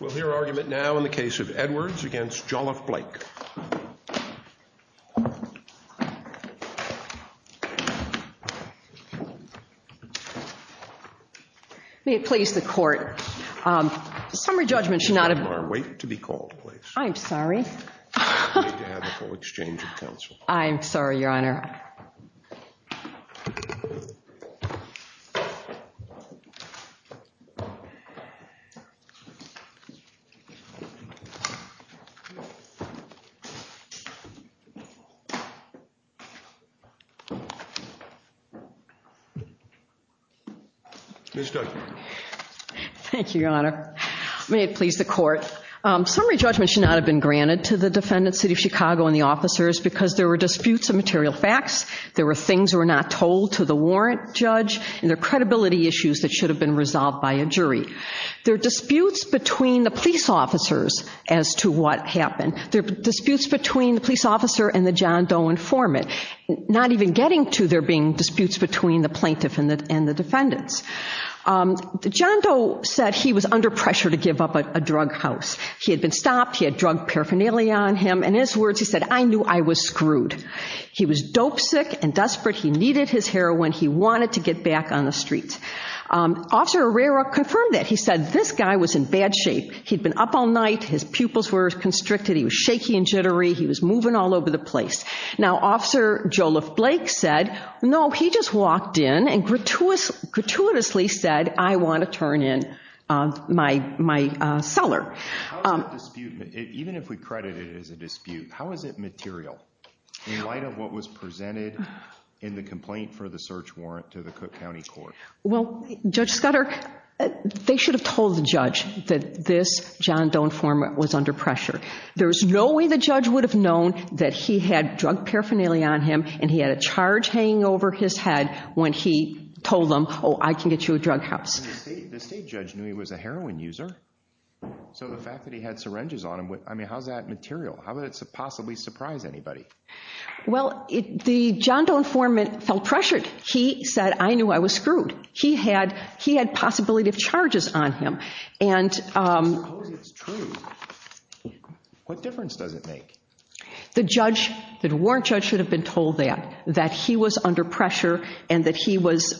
We'll hear argument now in the case of Edwards v. Jolliff-Blake. May it please the Court, the summary judgment should not have... Your Honor, wait to be called, please. I'm sorry. You have the full exchange of counsel. I'm sorry, Your Honor. Ms. Judge. Thank you, Your Honor. May it please the Court. Summary judgment should not have been granted to the defendant, City of Chicago, and the officers because there were disputes of material facts, there were things that were not told to the warrant judge, and there were credibility issues that should have been resolved by a jury. There are disputes between the police officers as to what happened. There are disputes between the police officer and the John Doe informant, not even getting to there being disputes between the plaintiff and the defendants. John Doe said he was under pressure to give up a drug house. He had been stopped, he had drug paraphernalia on him, and in his words he said, I knew I was screwed. He was dope sick and desperate, he needed his heroin, he wanted to get back on the streets. Officer Herrera confirmed that. He said this guy was in bad shape. He'd been up all night, his pupils were constricted, he was shaky and jittery, he was moving all over the place. Now, Officer Joliff-Blake said, no, he just walked in and gratuitously said, I want to turn in my cellar. Even if we credit it as a dispute, how is it material in light of what was presented in the complaint for the search warrant to the Cook County Court? Well, Judge Scudder, they should have told the judge that this John Doe informant was under pressure. There's no way the judge would have known that he had drug paraphernalia on him and he had a charge hanging over his head when he told them, oh, I can get you a drug house. The state judge knew he was a heroin user, so the fact that he had syringes on him, I mean, how's that material? How would it possibly surprise anybody? Well, the John Doe informant felt pressured. He said, I knew I was screwed. He had possibility of charges on him. Suppose it's true. What difference does it make? The warrant judge should have been told that, that he was under pressure and that he was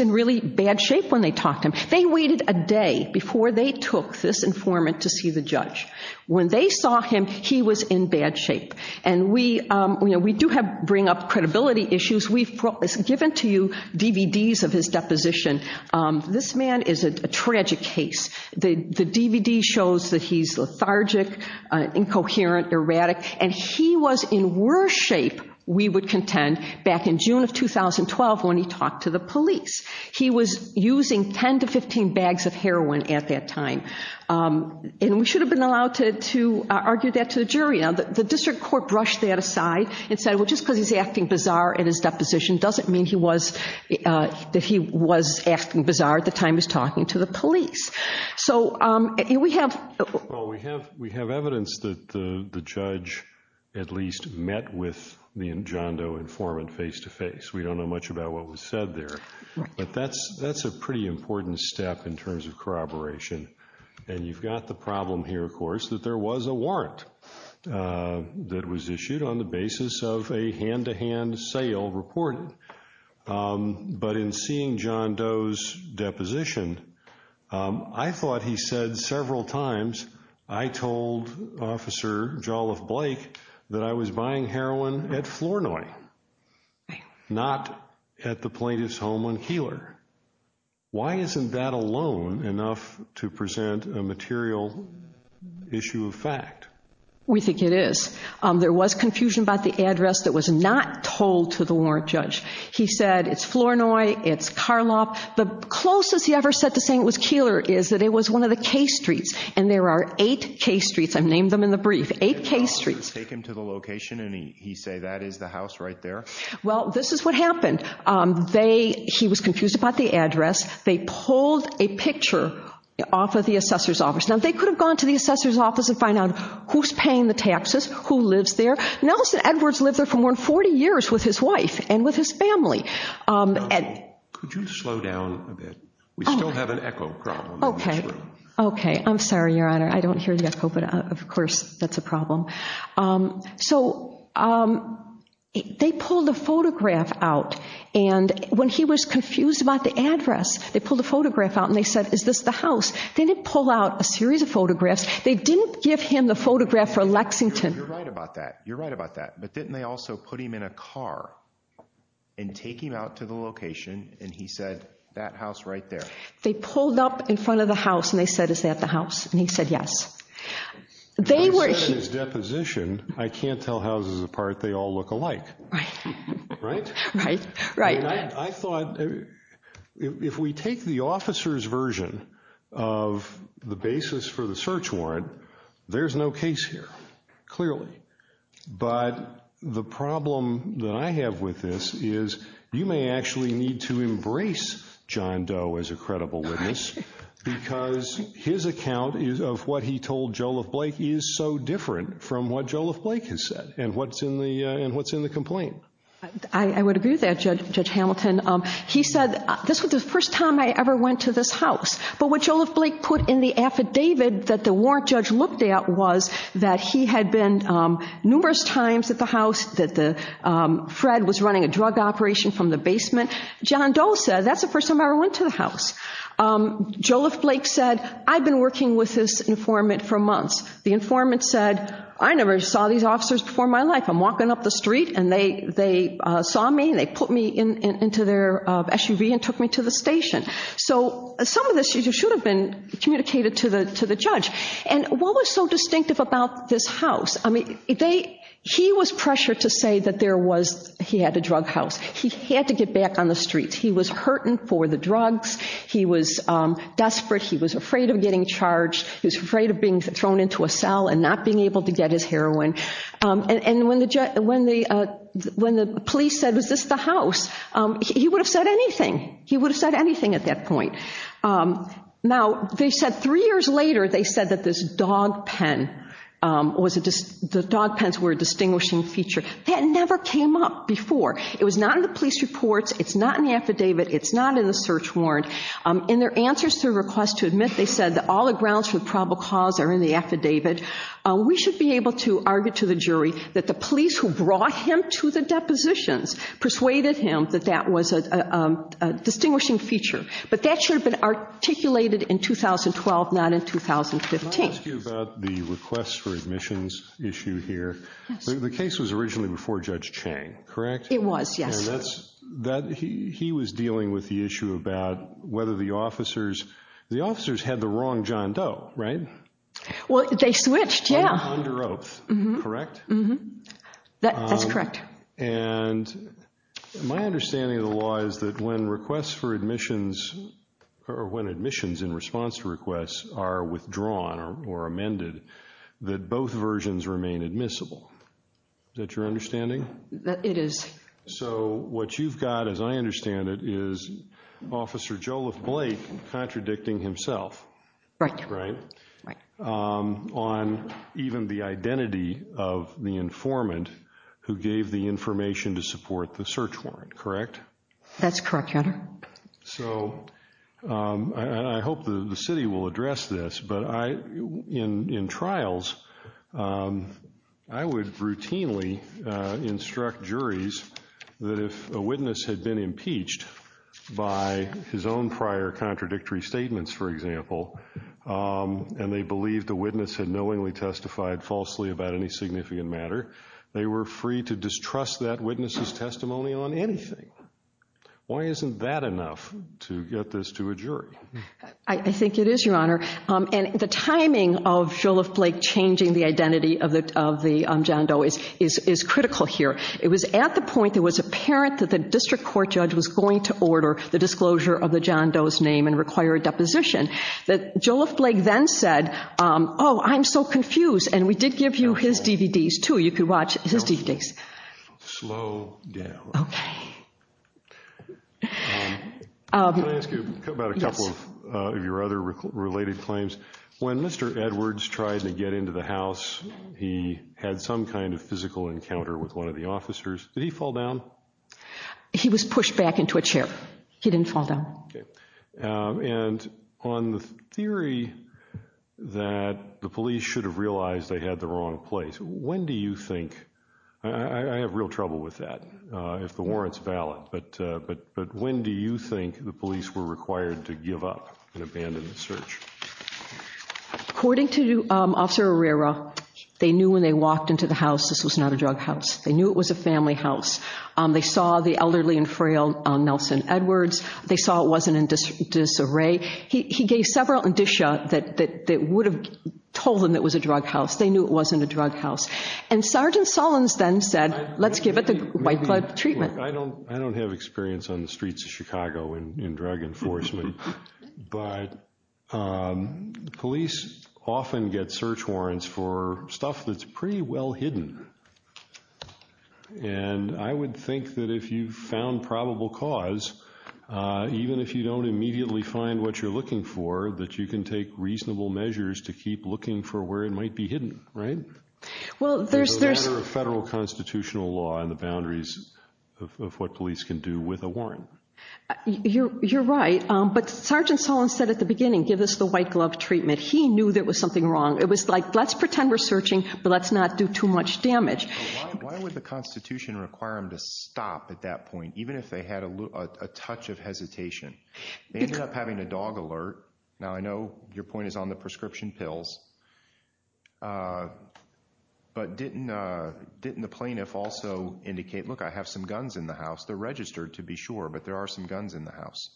in really bad shape when they talked to him. They waited a day before they took this informant to see the judge. When they saw him, he was in bad shape. And we do bring up credibility issues. We've given to you DVDs of his deposition. This man is a tragic case. The DVD shows that he's lethargic, incoherent, erratic, and he was in worse shape, we would contend, back in June of 2012 when he talked to the police. He was using 10 to 15 bags of heroin at that time. And we should have been allowed to argue that to the jury. Now, the district court brushed that aside and said, well, just because he's acting bizarre in his deposition doesn't mean he was acting bizarre at the time he was talking to the police. So we have— Well, we have evidence that the judge at least met with the John Doe informant face-to-face. We don't know much about what was said there. But that's a pretty important step in terms of corroboration. And you've got the problem here, of course, that there was a warrant that was issued on the basis of a hand-to-hand sale report. But in seeing John Doe's deposition, I thought he said several times, I told Officer Jolliffe Blake that I was buying heroin at Flournoy, not at the plaintiff's home on Keeler. Why isn't that alone enough to present a material issue of fact? We think it is. There was confusion about the address that was not told to the warrant judge. He said it's Flournoy, it's Carlop. The closest he ever said to saying it was Keeler is that it was one of the K streets. And there are eight K streets. I've named them in the brief. Eight K streets. Take him to the location and he'd say that is the house right there? Well, this is what happened. He was confused about the address. They pulled a picture off of the assessor's office. Now, they could have gone to the assessor's office and find out who's paying the taxes, who lives there. Nelson Edwards lived there for more than 40 years with his wife and with his family. Could you slow down a bit? We still have an echo problem. Okay. I'm sorry, Your Honor. I don't hear the echo, but, of course, that's a problem. So they pulled a photograph out. And when he was confused about the address, they pulled a photograph out and they said is this the house? They didn't pull out a series of photographs. They didn't give him the photograph for Lexington. You're right about that. You're right about that. But didn't they also put him in a car and take him out to the location and he said that house right there? They pulled up in front of the house and they said is that the house? And he said yes. When he said his deposition, I can't tell houses apart. They all look alike. Right. Right? Right. I thought if we take the officer's version of the basis for the search warrant, there's no case here, clearly. But the problem that I have with this is you may actually need to embrace John Doe as a credible witness because his account of what he told Joliff Blake is so different from what Joliff Blake has said and what's in the complaint. I would agree with that, Judge Hamilton. He said this was the first time I ever went to this house. But what Joliff Blake put in the affidavit that the warrant judge looked at was that he had been numerous times at the house, that Fred was running a drug operation from the basement. John Doe said that's the first time I ever went to the house. Joliff Blake said I've been working with this informant for months. The informant said I never saw these officers before in my life. I'm walking up the street and they saw me and they put me into their SUV and took me to the station. So some of this should have been communicated to the judge. And what was so distinctive about this house? He was pressured to say that he had a drug house. He had to get back on the streets. He was hurting for the drugs. He was desperate. He was afraid of getting charged. He was afraid of being thrown into a cell and not being able to get his heroin. And when the police said was this the house, he would have said anything. He would have said anything at that point. Now, they said three years later, they said that this dog pen, the dog pens were a distinguishing feature. That never came up before. It was not in the police reports. It's not in the affidavit. It's not in the search warrant. In their answers to requests to admit, they said that all the grounds for the probable cause are in the affidavit. We should be able to argue to the jury that the police who brought him to the depositions persuaded him that that was a distinguishing feature. But that should have been articulated in 2012, not in 2015. Let me ask you about the requests for admissions issue here. The case was originally before Judge Chang, correct? It was, yes. He was dealing with the issue about whether the officers, the officers had the wrong John Doe, right? Well, they switched, yeah. Under oath, correct? That's correct. And my understanding of the law is that when requests for admissions, or when admissions in response to requests are withdrawn or amended, that both versions remain admissible. Is that your understanding? It is. So what you've got, as I understand it, is Officer Joliffe Blake contradicting himself. Right. On even the identity of the informant who gave the information to support the search warrant, correct? That's correct, Your Honor. So I hope the city will address this, but in trials, I would routinely instruct juries that if a witness had been impeached by his own prior contradictory statements, for example, and they believed the witness had knowingly testified falsely about any significant matter, they were free to distrust that witness's testimony on anything. Why isn't that enough to get this to a jury? I think it is, Your Honor. And the timing of Joliffe Blake changing the identity of the John Doe is critical here. It was at the point that it was apparent that the district court judge was going to order the disclosure of the John Doe's name and require a deposition, that Joliffe Blake then said, oh, I'm so confused. And we did give you his DVDs, too. You could watch his DVDs. Slow down. Okay. Can I ask you about a couple of your other related claims? When Mr. Edwards tried to get into the house, he had some kind of physical encounter with one of the officers. Did he fall down? He was pushed back into a chair. He didn't fall down. And on the theory that the police should have realized they had the wrong place, when do you think? I have real trouble with that, if the warrant's valid. But when do you think the police were required to give up and abandon the search? According to Officer Herrera, they knew when they walked into the house this was not a drug house. They knew it was a family house. They saw the elderly and frail Nelson Edwards. They saw it wasn't in disarray. He gave several indicia that would have told them it was a drug house. They knew it wasn't a drug house. And Sergeant Sullins then said, let's give it the white blood treatment. I don't have experience on the streets of Chicago in drug enforcement. But police often get search warrants for stuff that's pretty well hidden. And I would think that if you found probable cause, even if you don't immediately find what you're looking for, that you can take reasonable measures to keep looking for where it might be hidden, right? In the matter of federal constitutional law and the boundaries of what police can do with a warrant. You're right. But Sergeant Sullins said at the beginning, give us the white glove treatment. He knew there was something wrong. It was like, let's pretend we're searching, but let's not do too much damage. Why would the Constitution require them to stop at that point, even if they had a touch of hesitation? They ended up having a dog alert. Now, I know your point is on the prescription pills. But didn't the plaintiff also indicate, look, I have some guns in the house. They're registered to be sure, but there are some guns in the house.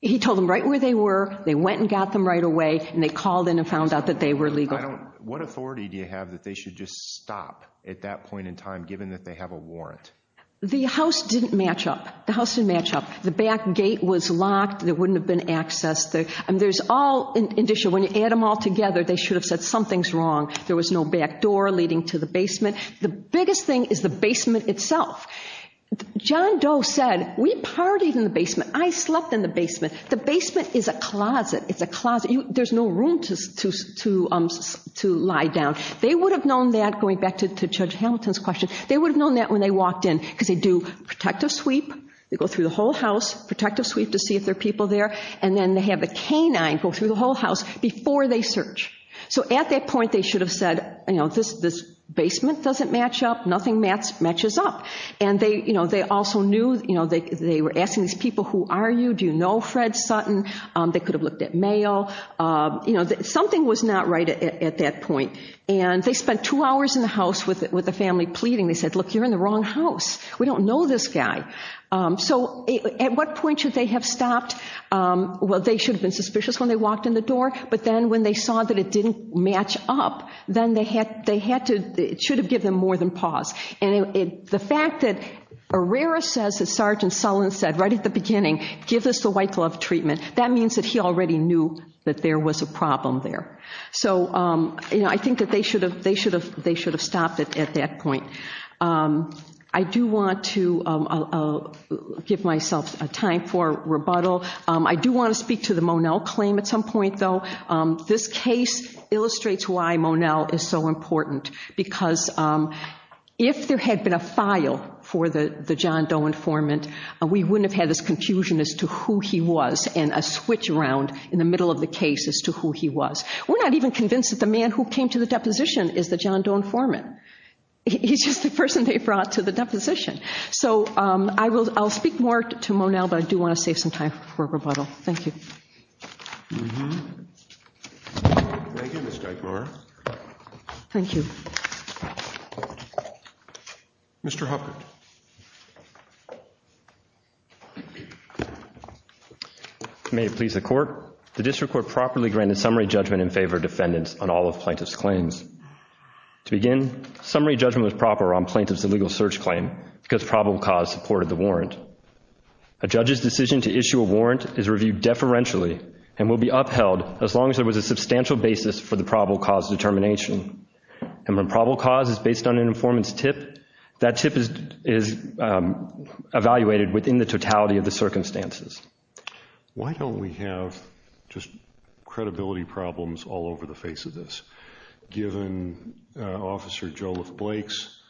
He told them right where they were. They went and got them right away. And they called in and found out that they were legal. What authority do you have that they should just stop at that point in time, given that they have a warrant? The house didn't match up. The house didn't match up. The back gate was locked. There wouldn't have been access. When you add them all together, they should have said something's wrong. There was no back door leading to the basement. The biggest thing is the basement itself. John Doe said, we partied in the basement. I slept in the basement. The basement is a closet. It's a closet. There's no room to lie down. They would have known that, going back to Judge Hamilton's question, they would have known that when they walked in because they do protective sweep. They go through the whole house, protective sweep to see if there are people there, and then they have a canine go through the whole house before they search. So at that point, they should have said, this basement doesn't match up. Nothing matches up. And they also knew they were asking these people, who are you? Do you know Fred Sutton? They could have looked at mail. Something was not right at that point. And they spent two hours in the house with the family pleading. They said, look, you're in the wrong house. We don't know this guy. So at what point should they have stopped? Well, they should have been suspicious when they walked in the door, but then when they saw that it didn't match up, then they had to – it should have given them more than pause. And the fact that Herrera says, as Sergeant Sullen said right at the beginning, give us the white glove treatment, that means that he already knew that there was a problem there. So I think that they should have stopped it at that point. I do want to give myself time for rebuttal. I do want to speak to the Monell claim at some point, though. This case illustrates why Monell is so important, because if there had been a file for the John Doe informant, we wouldn't have had this confusion as to who he was and a switch around in the middle of the case as to who he was. We're not even convinced that the man who came to the deposition is the John Doe informant. He's just the person they brought to the deposition. So I'll speak more to Monell, but I do want to save some time for rebuttal. Thank you. Thank you, Ms. Geigler. Thank you. Mr. Huppert. May it please the Court. The district court properly granted summary judgment in favor of defendants on all of plaintiff's claims. To begin, summary judgment was proper on plaintiff's illegal search claim because probable cause supported the warrant. A judge's decision to issue a warrant is reviewed deferentially and will be upheld as long as there was a substantial basis for the probable cause determination. And when probable cause is based on an informant's tip, that tip is evaluated within the totality of the circumstances. Why don't we have just credibility problems all over the face of this? Given Officer Joliffe Blake's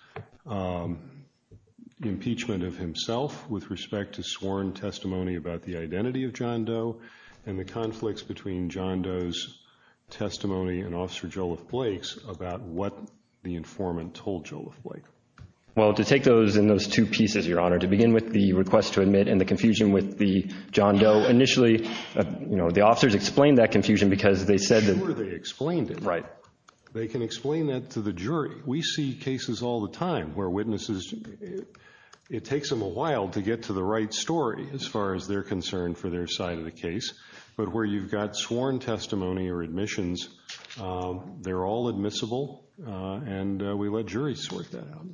impeachment of himself with respect to sworn testimony about the identity of John Doe and the conflicts between John Doe's testimony and Officer Joliffe Blake's about what the informant told Joliffe Blake. Well, to take those in those two pieces, Your Honor, to begin with the request to admit and the confusion with the John Doe. Initially, you know, the officers explained that confusion because they said that after they explained it, they can explain that to the jury. We see cases all the time where witnesses, it takes them a while to get to the right story as far as they're concerned for their side of the case. But where you've got sworn testimony or admissions, they're all admissible and we let juries sort that out.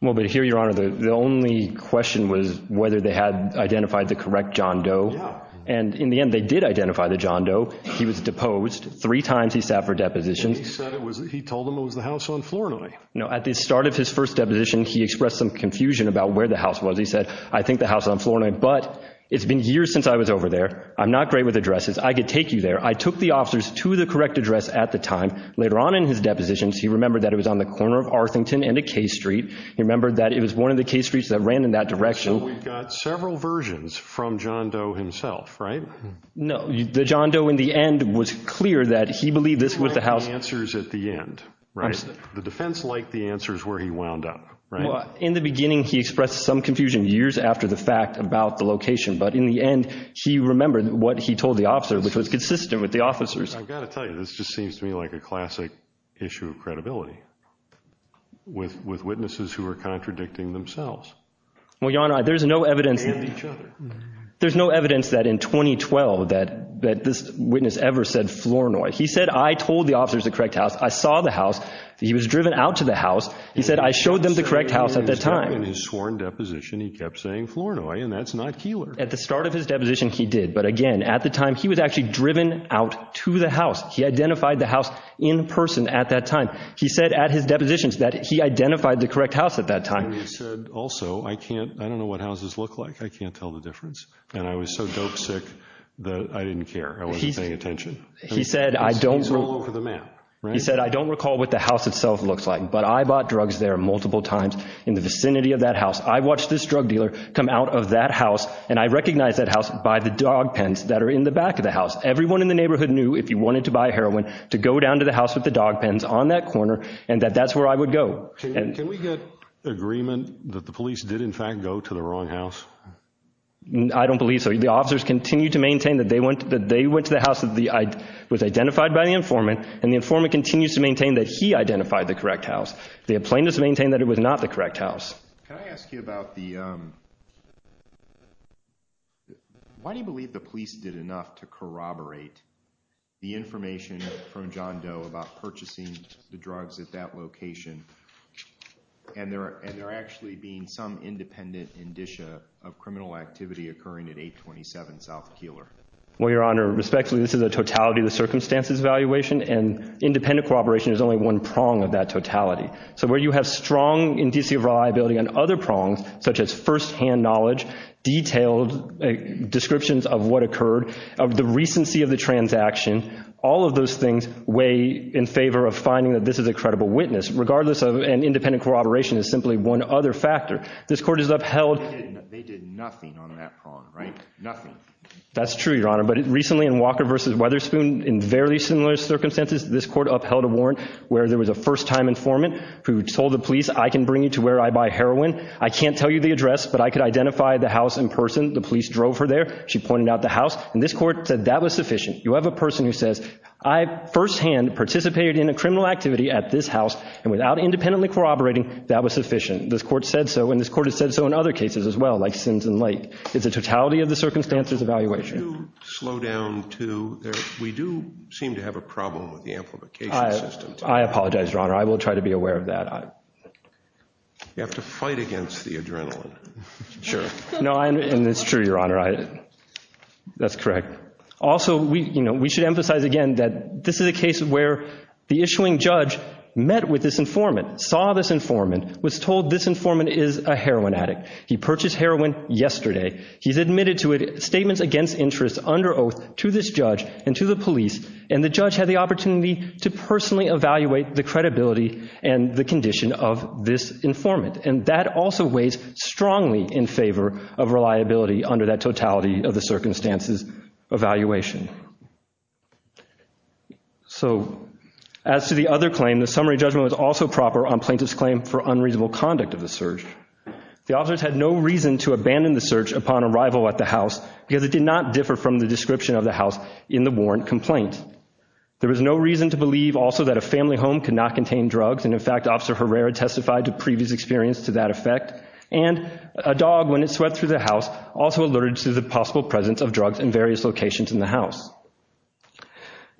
Well, but here, Your Honor, the only question was whether they had identified the correct John Doe. And in the end, they did identify the John Doe. He was deposed. Three times he sat for depositions. He told them it was the house on Floranoi. No, at the start of his first deposition, he expressed some confusion about where the house was. He said, I think the house on Floranoi, but it's been years since I was over there. I'm not great with addresses. I could take you there. I took the officers to the correct address at the time. Later on in his depositions, he remembered that it was on the corner of Arlington and a K Street. He remembered that it was one of the K Streets that ran in that direction. So we've got several versions from John Doe himself, right? No, the John Doe in the end was clear that he believed this was the house. The answers at the end, right? The defense liked the answers where he wound up, right? In the beginning, he expressed some confusion years after the fact about the location. But in the end, he remembered what he told the officer, which was consistent with the officers. I've got to tell you, this just seems to me like a classic issue of credibility with witnesses who are contradicting themselves. Well, Your Honor, there's no evidence. And each other. There's no evidence that in 2012 that this witness ever said Flournoy. He said, I told the officers the correct house. I saw the house. He was driven out to the house. He said, I showed them the correct house at that time. In his sworn deposition, he kept saying Flournoy, and that's not Keillor. At the start of his deposition, he did. But again, at the time, he was actually driven out to the house. He identified the house in person at that time. He said at his depositions that he identified the correct house at that time. And he said, also, I don't know what houses look like. I can't tell the difference. And I was so dope sick that I didn't care. I wasn't paying attention. He said, I don't recall what the house itself looks like, but I bought drugs there multiple times in the vicinity of that house. I watched this drug dealer come out of that house, and I recognized that house by the dog pens that are in the back of the house. Everyone in the neighborhood knew, if you wanted to buy heroin, to go down to the house with the dog pens on that corner and that that's where I would go. Can we get agreement that the police did, in fact, go to the wrong house? I don't believe so. The officers continue to maintain that they went to the house that was identified by the informant, and the informant continues to maintain that he identified the correct house. The plaintiffs maintain that it was not the correct house. Can I ask you about the why do you believe the police did enough to corroborate the information from John Doe about purchasing the drugs at that location, and there actually being some independent indicia of criminal activity occurring at 827 South Keeler? Well, Your Honor, respectfully, this is a totality of the circumstances evaluation, and independent corroboration is only one prong of that totality. So where you have strong indicia of reliability on other prongs, such as firsthand knowledge, detailed descriptions of what occurred, of the recency of the transaction, all of those things weigh in favor of finding that this is a credible witness, regardless of an independent corroboration is simply one other factor. This Court has upheld— They did nothing on that prong, right? Nothing. That's true, Your Honor, but recently in Walker v. Weatherspoon, in very similar circumstances, this Court upheld a warrant where there was a first-time informant who told the police, I can bring you to where I buy heroin. I can't tell you the address, but I can identify the house in person. The police drove her there. She pointed out the house, and this Court said that was sufficient. You have a person who says, I firsthand participated in a criminal activity at this house, and without independently corroborating, that was sufficient. This Court said so, and this Court has said so in other cases as well, like Sims and Lake. It's a totality of the circumstances evaluation. We do slow down to—we do seem to have a problem with the amplification system. I apologize, Your Honor. I will try to be aware of that. You have to fight against the adrenaline. Sure. No, and it's true, Your Honor. That's correct. Also, we should emphasize again that this is a case where the issuing judge met with this informant, saw this informant, was told this informant is a heroin addict. He purchased heroin yesterday. He's admitted to statements against interest under oath to this judge and to the police, and the judge had the opportunity to personally evaluate the credibility and the condition of this informant. And that also weighs strongly in favor of reliability under that totality of the circumstances evaluation. So as to the other claim, the summary judgment was also proper on plaintiff's claim for unreasonable conduct of the search. The officers had no reason to abandon the search upon arrival at the house because it did not differ from the description of the house in the warrant complaint. There was no reason to believe also that a family home could not contain drugs, and, in fact, Officer Herrera testified to previous experience to that effect, and a dog when it swept through the house also alerted to the possible presence of drugs in various locations in the house.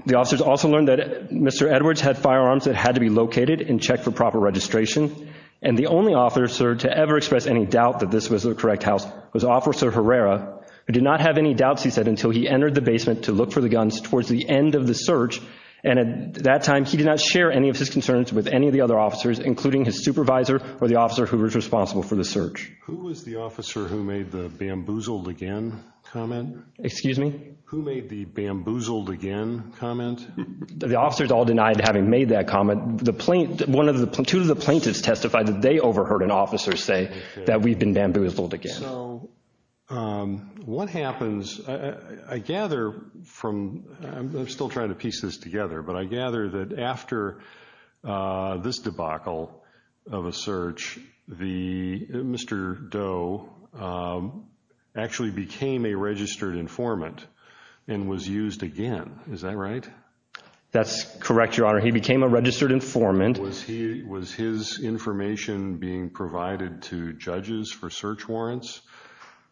The officers also learned that Mr. Edwards had firearms that had to be located and checked for proper registration, and the only officer to ever express any doubt that this was the correct house was Officer Herrera, who did not have any doubts, he said, until he entered the basement to look for the guns towards the end of the search, and at that time he did not share any of his concerns with any of the other officers, including his supervisor or the officer who was responsible for the search. Who was the officer who made the bamboozled again comment? Excuse me? Who made the bamboozled again comment? The officers all denied having made that comment. Two of the plaintiffs testified that they overheard an officer say that we've been bamboozled again. So what happens, I gather from, I'm still trying to piece this together, but I gather that after this debacle of a search, Mr. Doe actually became a registered informant and was used again. Is that right? That's correct, Your Honor. He became a registered informant. Was his information being provided to judges for search warrants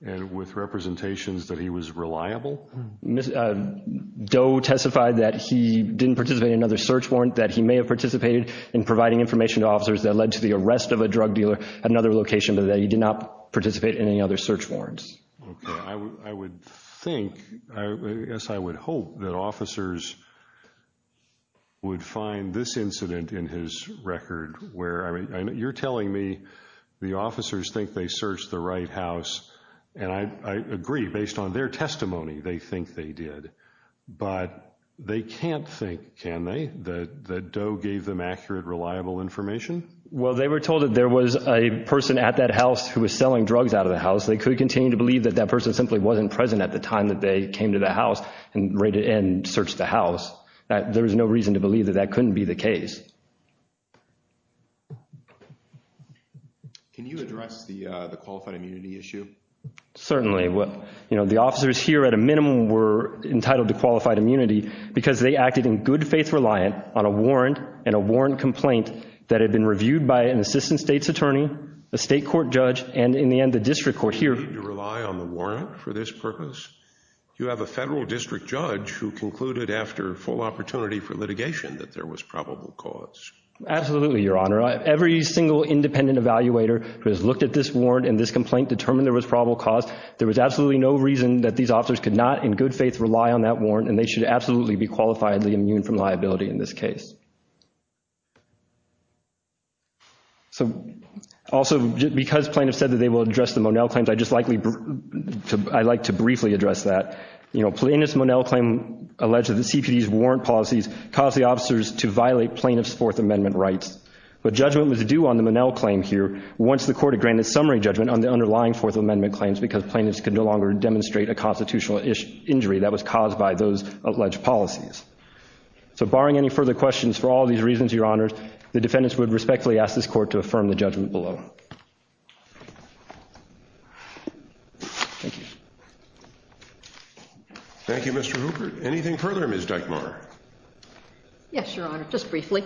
and with representations that he was reliable? Doe testified that he didn't participate in another search warrant, that he may have participated in providing information to officers that led to the arrest of a drug dealer at another location, but that he did not participate in any other search warrants. Okay. I would think, I guess I would hope that officers would find this incident in his record, where you're telling me the officers think they searched the right house, and I agree, based on their testimony, they think they did. But they can't think, can they, that Doe gave them accurate, reliable information? Well, they were told that there was a person at that house who was selling drugs out of the house. They could continue to believe that that person simply wasn't present at the time that they came to the house and searched the house. There is no reason to believe that that couldn't be the case. Can you address the qualified immunity issue? Certainly. The officers here, at a minimum, were entitled to qualified immunity because they acted in good faith reliant on a warrant and a warrant complaint that had been reviewed by an assistant state's attorney, a state court judge, and in the end the district court here. Do you need to rely on the warrant for this purpose? You have a federal district judge who concluded after full opportunity for litigation that there was probable cause. Absolutely, Your Honor. Every single independent evaluator who has looked at this warrant and this complaint determined there was probable cause. There was absolutely no reason that these officers could not in good faith rely on that warrant, and they should absolutely be qualifiedly immune from liability in this case. Also, because plaintiffs said that they will address the Monell claims, I'd like to briefly address that. In this Monell claim alleged that the CPD's warrant policies caused the officers to violate plaintiffs' Fourth Amendment rights. But judgment was due on the Monell claim here once the court had granted summary judgment on the underlying Fourth Amendment claims because plaintiffs could no longer demonstrate a constitutional injury that was caused by those alleged policies. So barring any further questions, for all these reasons, Your Honor, the defendants would respectfully ask this court to affirm the judgment below. Thank you. Thank you, Mr. Hooper. Anything further, Ms. Dykemaer? Yes, Your Honor, just briefly.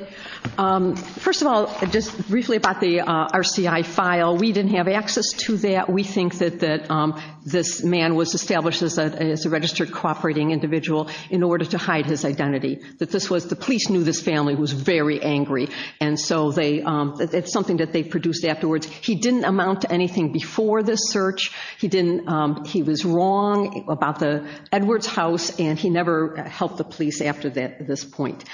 First of all, just briefly about the RCI file. We didn't have access to that. We think that this man was established as a registered cooperating individual in order to hide his identity. The police knew this family was very angry, and so it's something that they produced afterwards. He didn't amount to anything before this search. He was wrong about the Edwards house, and he never helped the police after this point.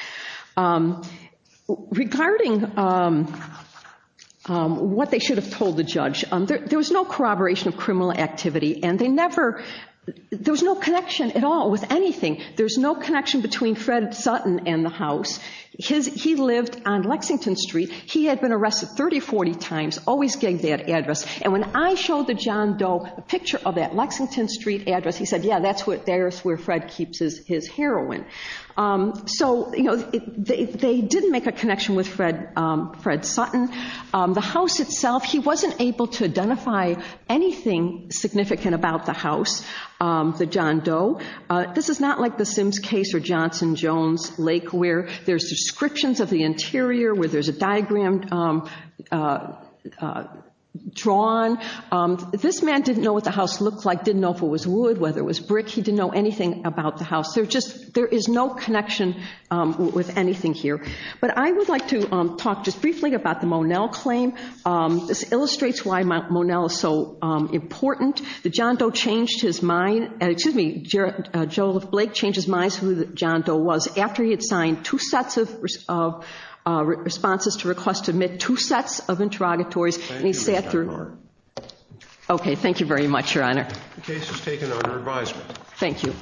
Regarding what they should have told the judge, there was no corroboration of criminal activity, and there was no connection at all with anything. There's no connection between Fred Sutton and the house. He lived on Lexington Street. He had been arrested 30, 40 times, always getting that address. And when I showed the John Doe a picture of that Lexington Street address, he said, yeah, that's where Fred keeps his heroin. So they didn't make a connection with Fred Sutton. The house itself, he wasn't able to identify anything significant about the house, the John Doe. This is not like the Sims case or Johnson Jones Lake where there's descriptions of the interior, where there's a diagram drawn. This man didn't know what the house looked like, didn't know if it was wood, whether it was brick. He didn't know anything about the house. There is no connection with anything here. But I would like to talk just briefly about the Monell claim. This illustrates why Monell is so important. The John Doe changed his mind, excuse me, Joel Blake changed his mind as to who the John Doe was after he had signed two sets of responses to request to admit, two sets of interrogatories, and he sat through. Okay, thank you very much, Your Honor. The case is taken under advisement. Thank you.